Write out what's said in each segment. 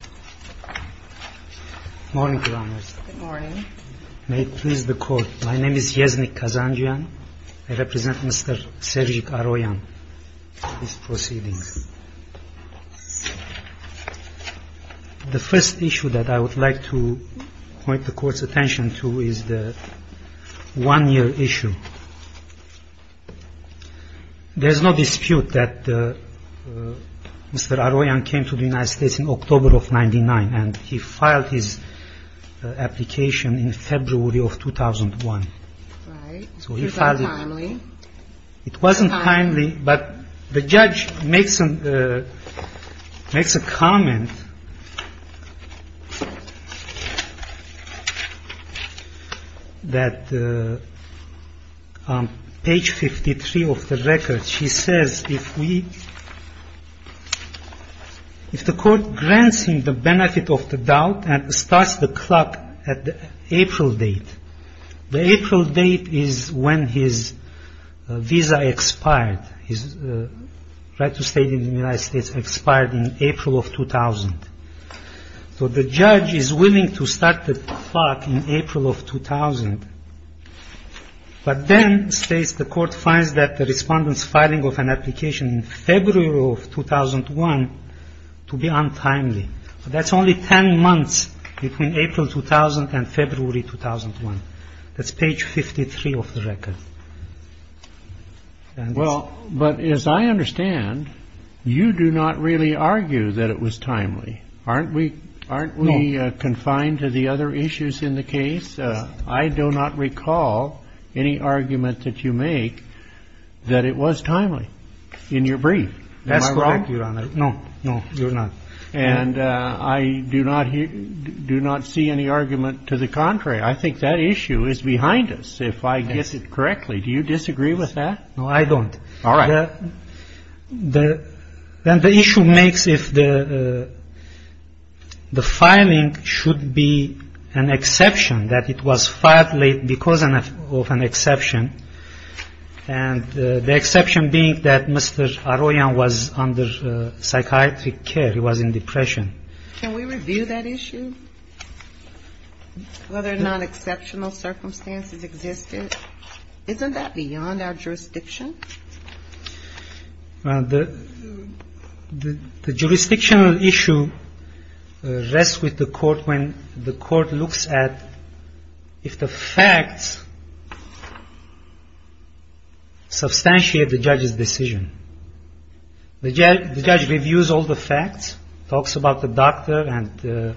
Good morning, Your Honor. Good morning. May it please the Court, my name is Yeznik Kazanjian. I represent Mr. Sergej Aroyan. Please proceed. The first issue that I would like to point the Court's attention to is the one-year issue. There is no dispute that Mr. Aroyan came to the United States in October of 1999 and he filed his application in February of 2001. So he filed it. Was that timely? It wasn't timely, but the judge makes a comment that on page 53 of the record, she says, if we, if the Court grants him the benefit of the doubt and starts the clock at the April date, the April date is when his visa expired. His right to stay in the United States expired in April of 2000. So the judge is willing to start the clock in April of 2000. But then states the Court finds that the Respondent's filing of an application in February of 2001 to be untimely. So that's only 10 months between April 2000 and February 2001. That's page 53 of the record. Well, but as I understand, you do not really argue that it was timely. Aren't we, aren't we confined to the other issues in the case? I do not recall any argument that you make that it was timely in your brief. Am I wrong? That's correct, Your Honor. No, no, you're not. And I do not see any argument to the contrary. I think that issue is behind us, if I guess it correctly. Do you disagree with that? No, I don't. All right. Then the issue makes if the filing should be an exception, that it was filed late because of an exception. And the exception being that Mr. Arroyo was under psychiatric care. He was in depression. Can we review that issue? Whether non-exceptional circumstances existed? Isn't that beyond our jurisdiction? The jurisdictional issue rests with the court when the court looks at if the facts substantiate the judge's decision. The judge reviews all the facts, talks about the doctor, and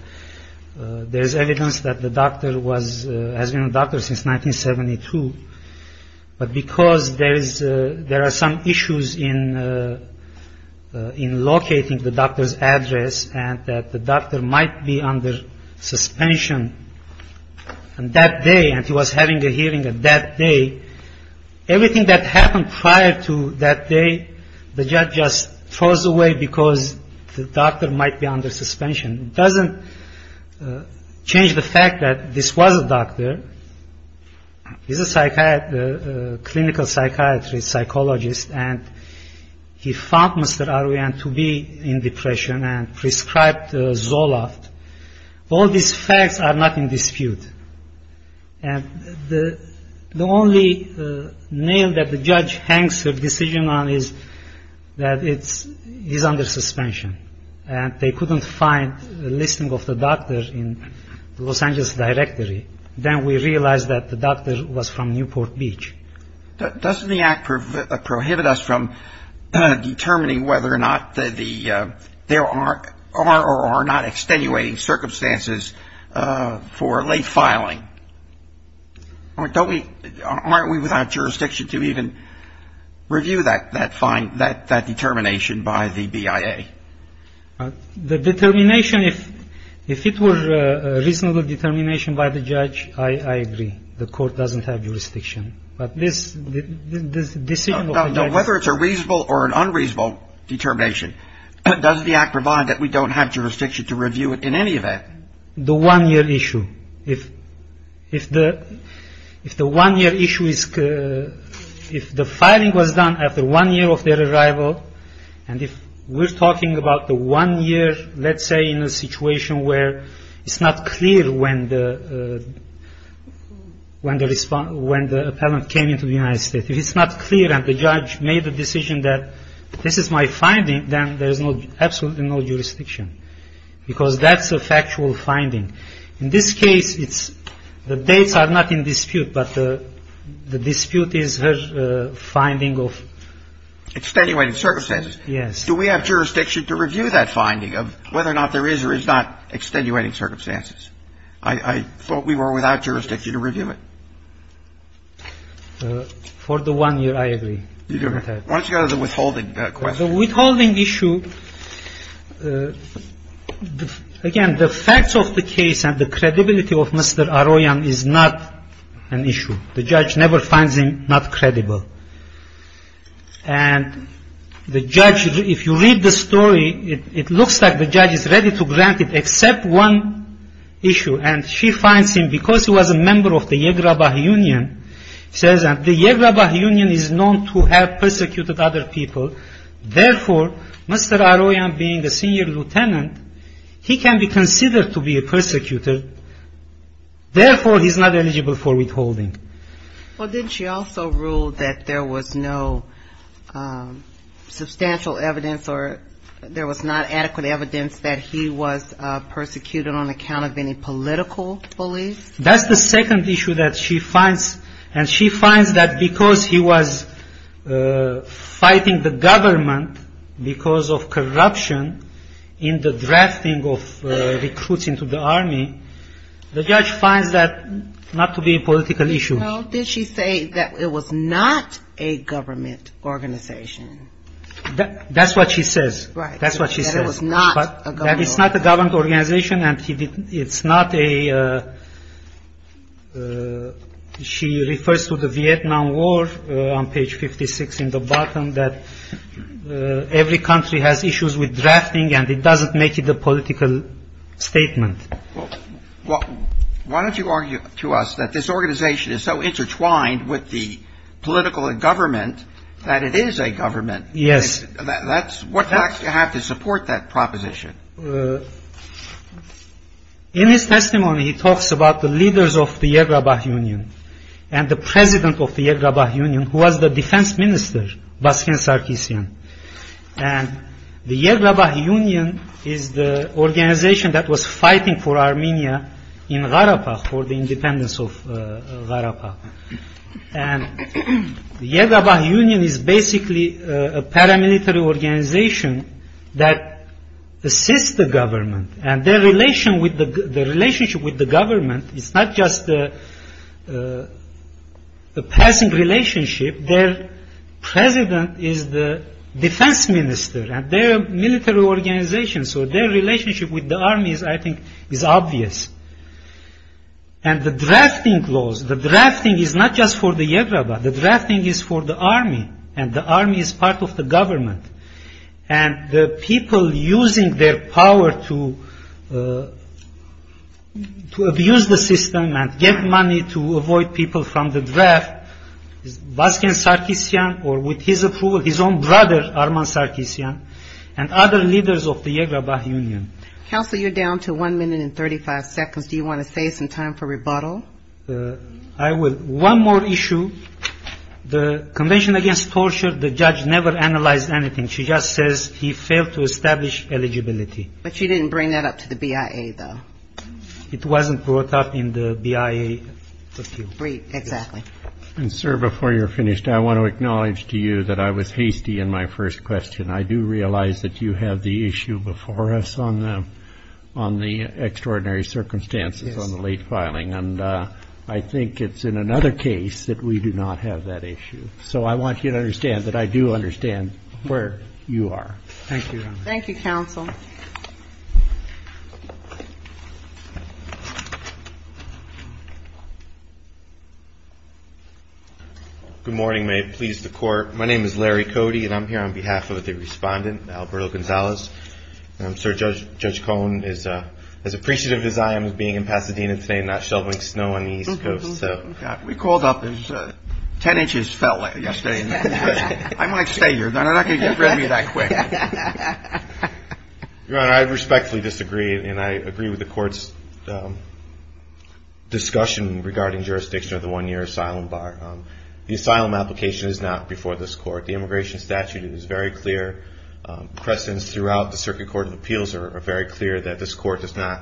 there's evidence that the doctor was, has been a doctor since 1972. But because there is, there are some issues in locating the doctor's address and that the doctor might be under suspension, and that day, and he was having a hearing on that day, everything that happened prior to that day, the judge just throws away because the doctor might be under suspension. It doesn't change the fact that this was a doctor. He's a psychiatrist, clinical psychiatrist, psychologist, and he found Mr. Arroyo to be in depression and prescribed Zoloft. All these facts are not in dispute. And the only nail that the judge hangs her decision on is that it's, he's under suspension, and they couldn't find a listing of the doctor in Los Angeles directory. Then we realize that the doctor was from Newport Beach. Doesn't the act prohibit us from determining whether or not the, there are or are not extenuating circumstances for late filing? Don't we, aren't we without jurisdiction to even review that, that determination by the BIA? The determination, if it were a reasonable determination by the judge, I agree. The court doesn't have jurisdiction. But this decision of the judge. Now, whether it's a reasonable or an unreasonable determination, does the act provide that we don't have jurisdiction to review it in any event? The one-year issue. If the one-year issue is, if the filing was done after one year of their arrival, and if we're talking about the one year, let's say, in a situation where it's not clear when the, when the response, when the appellant came into the United States, if it's not clear and the judge made the decision that this is my finding, then there is absolutely no jurisdiction. Because that's a factual finding. In this case, it's, the dates are not in dispute, but the dispute is her finding of. Extenuating circumstances. Yes. Do we have jurisdiction to review that finding of whether or not there is or is not extenuating circumstances? I thought we were without jurisdiction to review it. For the one year, I agree. Why don't you go to the withholding question? The withholding issue, again, the facts of the case and the credibility of Mr. Aroyan is not an issue. The judge never finds him not credible. And the judge, if you read the story, it looks like the judge is ready to grant it except one issue, and she finds him because he was a member of the Yegrabah Union, says that the Yegrabah Union is known to have persecuted other people. Therefore, Mr. Aroyan being a senior lieutenant, he can be considered to be a persecutor. Therefore, he's not eligible for withholding. Well, didn't she also rule that there was no substantial evidence or there was not adequate evidence that he was persecuted on account of any political beliefs? That's the second issue that she finds, and she finds that because he was fighting the government because of corruption in the drafting of recruits into the army, the judge finds that not to be a political issue. Well, did she say that it was not a government organization? That's what she says. Right. That's what she says. That it was not a government organization. That it's not a government organization and it's not a – she refers to the Vietnam War on page 56 in the bottom, that every country has issues with drafting and it doesn't make it a political statement. Well, why don't you argue to us that this organization is so intertwined with the political government that it is a government? Yes. That's – what facts do you have to support that proposition? In his testimony, he talks about the leaders of the Yergabah Union and the president of the Yergabah Union who was the defense minister, Baskin Sarkissian. And the Yergabah Union is the organization that was fighting for Armenia in Gharapagh for the independence of Gharapagh. And the Yergabah Union is basically a paramilitary organization that assists the government and their relationship with the government is not just a passing relationship. Their president is the defense minister and their military organization, so their relationship with the army, I think, is obvious. And the drafting laws, the drafting is not just for the Yergabah. The drafting is for the army and the army is part of the government. And the people using their power to abuse the system and get money to avoid people from the draft, is Baskin Sarkissian or with his approval, his own brother Arman Sarkissian and other leaders of the Yergabah Union. Counsel, you're down to one minute and 35 seconds. Do you want to save some time for rebuttal? I will. One more issue. The Convention Against Torture, the judge never analyzed anything. She just says he failed to establish eligibility. But she didn't bring that up to the BIA, though. It wasn't brought up in the BIA. And, sir, before you're finished, I want to acknowledge to you that I was hasty in my first question. I do realize that you have the issue before us on the extraordinary circumstances on the late filing, and I think it's in another case that we do not have that issue. So I want you to understand that I do understand where you are. Thank you. Thank you, counsel. Good morning. May it please the Court. My name is Larry Cody, and I'm here on behalf of the respondent, Alberto Gonzalez. And, sir, Judge Cohen is as appreciative as I am of being in Pasadena today and not shoveling snow on the East Coast. We called up as 10 inches fell yesterday. I might stay here. They're not going to get rid of me that quick. Your Honor, I respectfully disagree, and I agree with the Court's discussion regarding jurisdiction of the one-year asylum bar. The asylum application is not before this Court. The immigration statute is very clear. Crescents throughout the Circuit Court of Appeals are very clear that this Court does not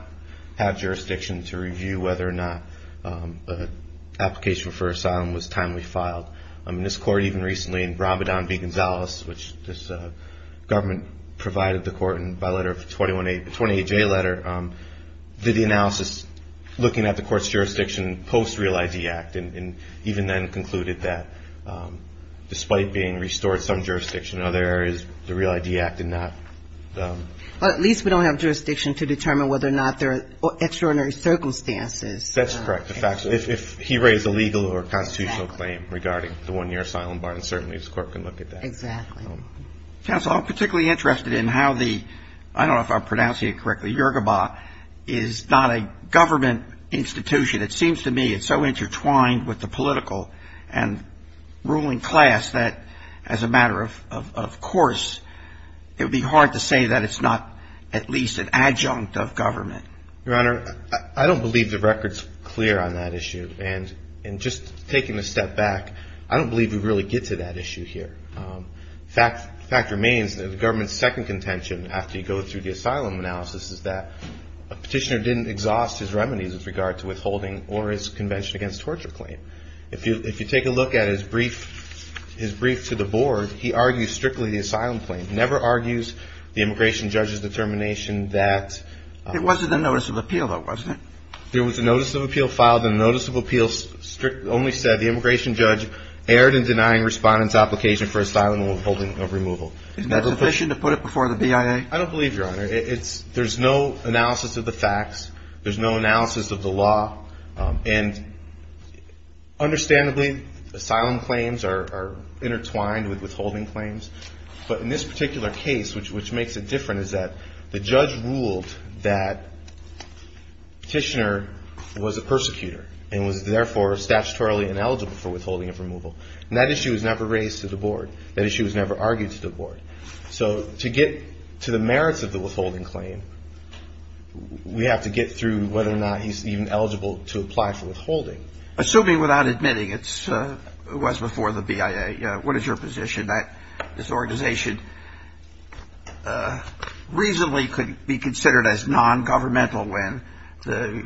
have jurisdiction to review whether or not an application for asylum was timely filed. I mean, this Court even recently in Bramadon v. Gonzalez, which this government provided the Court by letter of the 21AJ letter, did the analysis looking at the Court's jurisdiction post Real ID Act and even then concluded that despite being restored some jurisdiction, other areas the Real ID Act did not. Well, at least we don't have jurisdiction to determine whether or not there are extraordinary circumstances. That's correct. If he raised a legal or constitutional claim regarding the one-year asylum bar, and certainly this Court can look at that. Exactly. Counsel, I'm particularly interested in how the, I don't know if I'm pronouncing it correctly, Yoruba is not a government institution. It seems to me it's so intertwined with the political and ruling class that as a matter of course, it would be hard to say that it's not at least an adjunct of government. Your Honor, I don't believe the record's clear on that issue. And just taking a step back, I don't believe we really get to that issue here. The fact remains that the government's second contention after you go through the asylum analysis is that a petitioner didn't exhaust his remedies with regard to withholding or his convention against torture claim. If you take a look at his brief to the Board, he argues strictly the asylum claim, never argues the immigration judge's determination that It wasn't a notice of appeal, though, wasn't it? There was a notice of appeal filed. The notice of appeal only said the immigration judge erred in denying respondents' application for asylum withholding of removal. Isn't that sufficient to put it before the BIA? I don't believe, Your Honor. There's no analysis of the facts. There's no analysis of the law. And understandably, asylum claims are intertwined with withholding claims. But in this particular case, which makes it different, is that the judge ruled that petitioner was a persecutor and was therefore statutorily ineligible for withholding of removal. And that issue was never raised to the Board. That issue was never argued to the Board. So to get to the merits of the withholding claim, we have to get through whether or not he's even eligible to apply for withholding. Assuming without admitting it was before the BIA, what is your position? That this organization reasonably could be considered as nongovernmental when the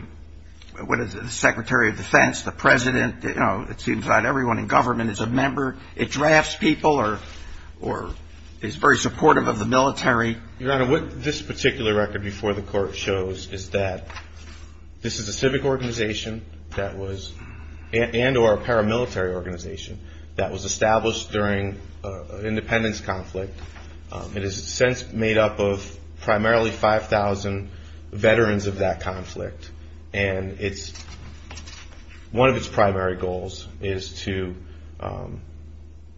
Secretary of Defense, the President, you know, it seems not everyone in government is a member. It drafts people or is very supportive of the military. Your Honor, what this particular record before the Court shows is that this is a civic organization that was and or a paramilitary organization that was established during an independence conflict. It is since made up of primarily 5,000 veterans of that conflict. And one of its primary goals is to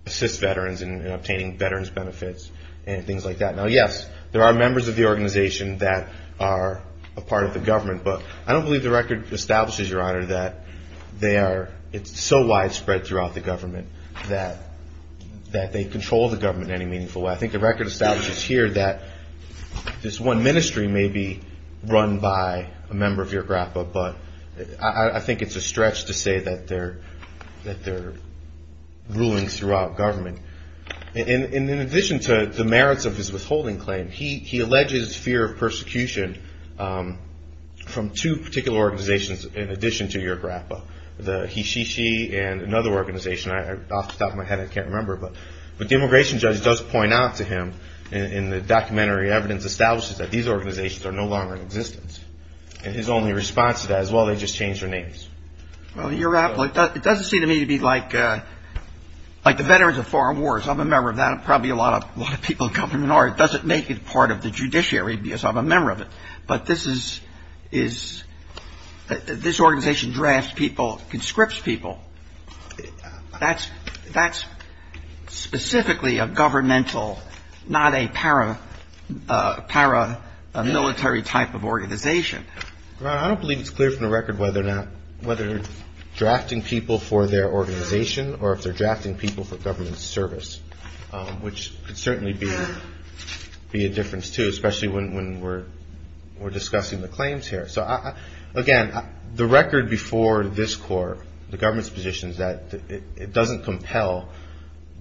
assist veterans in obtaining veterans benefits and things like that. Now, yes, there are members of the organization that are a part of the government. But I don't believe the record establishes, Your Honor, that they are so widespread throughout the government that they control the government in any meaningful way. I think the record establishes here that this one ministry may be run by a member of your grappa. But I think it's a stretch to say that they're ruling throughout government. And in addition to the merits of his withholding claim, he alleges fear of persecution from two particular organizations in addition to your grappa, the HeSheShe and another organization, off the top of my head, I can't remember. But the immigration judge does point out to him in the documentary evidence, establishes that these organizations are no longer in existence. And his only response to that is, well, they just changed their names. Well, your grappa, it doesn't seem to me to be like the Veterans of Foreign Wars. I'm a member of that. Probably a lot of people in government are. It doesn't make it part of the judiciary because I'm a member of it. But this organization drafts people, conscripts people. That's specifically a governmental, not a paramilitary type of organization. I don't believe it's clear from the record whether they're drafting people for their organization or if they're drafting people for government service, which could certainly be a difference, too, especially when we're discussing the claims here. So, again, the record before this court, the government's position is that it doesn't compel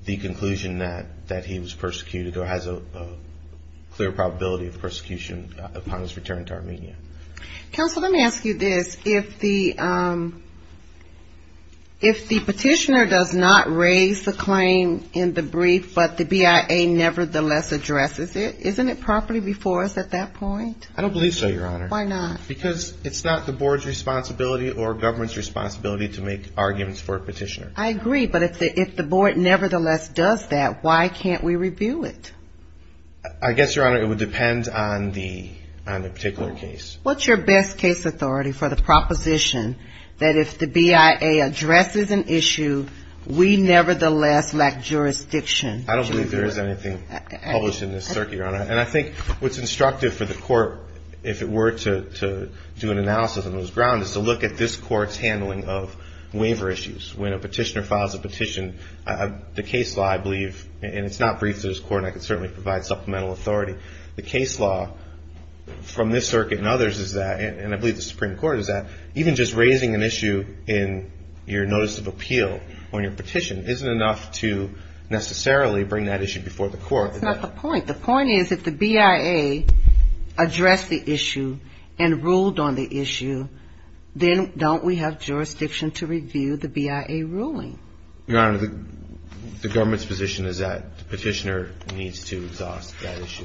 the conclusion that he was persecuted or has a clear probability of persecution upon his return to Armenia. Counsel, let me ask you this. If the petitioner does not raise the claim in the brief, but the BIA nevertheless addresses it, isn't it properly before us at that point? I don't believe so, Your Honor. Why not? Because it's not the board's responsibility or government's responsibility to make arguments for a petitioner. I agree, but if the board nevertheless does that, why can't we review it? I guess, Your Honor, it would depend on the particular case. What's your best case authority for the proposition that if the BIA addresses an issue, we nevertheless lack jurisdiction? I don't believe there is anything published in this circuit, Your Honor. And I think what's instructive for the court, if it were to do an analysis on this ground, is to look at this court's handling of waiver issues. When a petitioner files a petition, the case law, I believe, and it's not brief to this court, and I can certainly provide supplemental authority. The case law from this circuit and others is that, and I believe the Supreme Court is that, even just raising an issue in your notice of appeal on your petition isn't enough to necessarily bring that issue before the court. That's not the point. The point is, if the BIA addressed the issue and ruled on the issue, then don't we have jurisdiction to review the BIA ruling? Your Honor, the government's position is that the petitioner needs to exhaust that issue.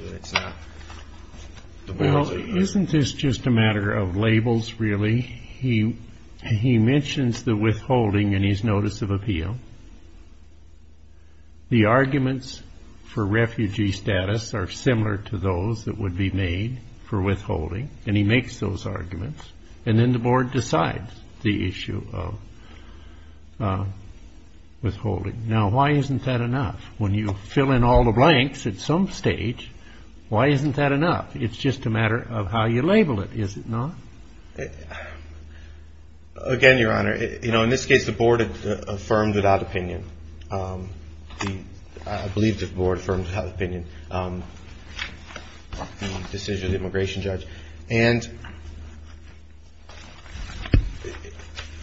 Well, isn't this just a matter of labels, really? He mentions the withholding in his notice of appeal. The arguments for refugee status are similar to those that would be made for withholding, and he makes those arguments, and then the board decides the issue of withholding. Now, why isn't that enough? When you fill in all the blanks at some stage, why isn't that enough? It's just a matter of how you label it, is it not? Again, Your Honor, you know, in this case, the board affirmed without opinion. I believe the board affirmed without opinion the decision of the immigration judge. And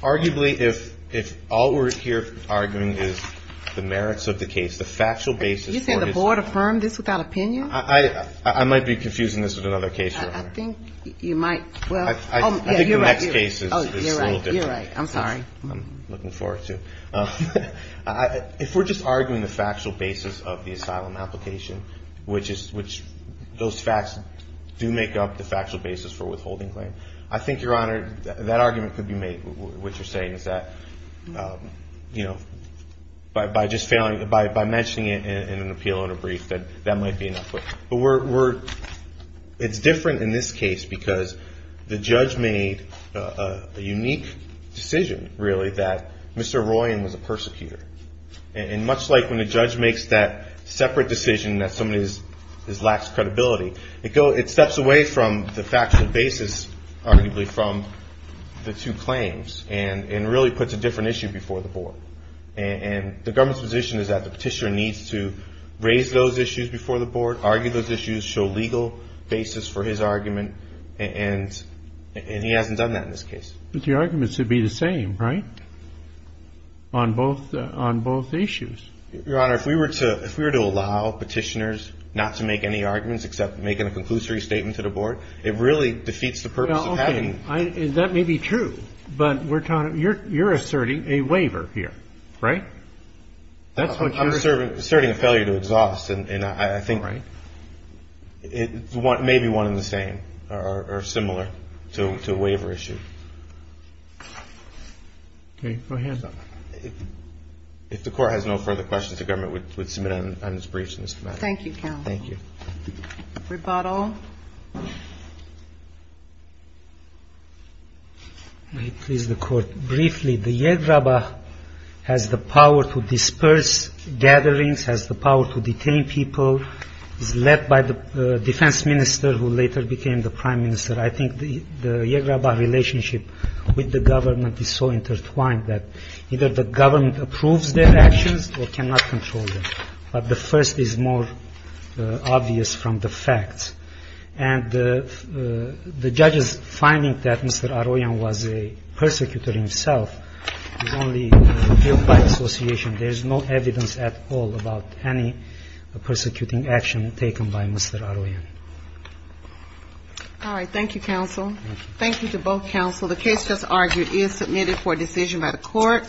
arguably, if all we're here arguing is the merits of the case, the factual basis for this case. You say the board affirmed this without opinion? I might be confusing this with another case, Your Honor. I think you might. I think the next case is a little different. You're right. I'm sorry. I'm looking forward to it. If we're just arguing the factual basis of the asylum application, which those facts do make up the factual basis for withholding claim, I think, Your Honor, that argument could be made. What you're saying is that, you know, by mentioning it in an appeal in a brief, that might be enough. But it's different in this case because the judge made a unique decision, really, that Mr. Royan was a persecutor. And much like when a judge makes that separate decision that somebody lacks credibility, it steps away from the factual basis, arguably, from the two claims and really puts a different issue before the board. And the government's position is that the petitioner needs to raise those issues before the board, argue those issues, show legal basis for his argument, and he hasn't done that in this case. But the arguments would be the same, right, on both issues? Your Honor, if we were to allow petitioners not to make any arguments except make a conclusory statement to the board, it really defeats the purpose of having them. Okay. That may be true. But you're asserting a waiver here, right? I'm asserting a failure to exhaust. And I think it may be one and the same or similar to a waiver issue. Okay. Go ahead. If the Court has no further questions, the government would submit on its briefs on this matter. Thank you, counsel. Thank you. Rebuttal. May it please the Court. Briefly, the Yehrabah has the power to disperse gatherings, has the power to detain people, is led by the defense minister who later became the prime minister. I think the Yehrabah relationship with the government is so intertwined that either the government approves their actions or cannot control them. But the first is more obvious from the facts. And the judge's finding that Mr. Aroyan was a persecutor himself is only built by association. There is no evidence at all about any persecuting action taken by Mr. Aroyan. All right. Thank you, counsel. Thank you to both counsel. The case just argued is submitted for decision by the Court.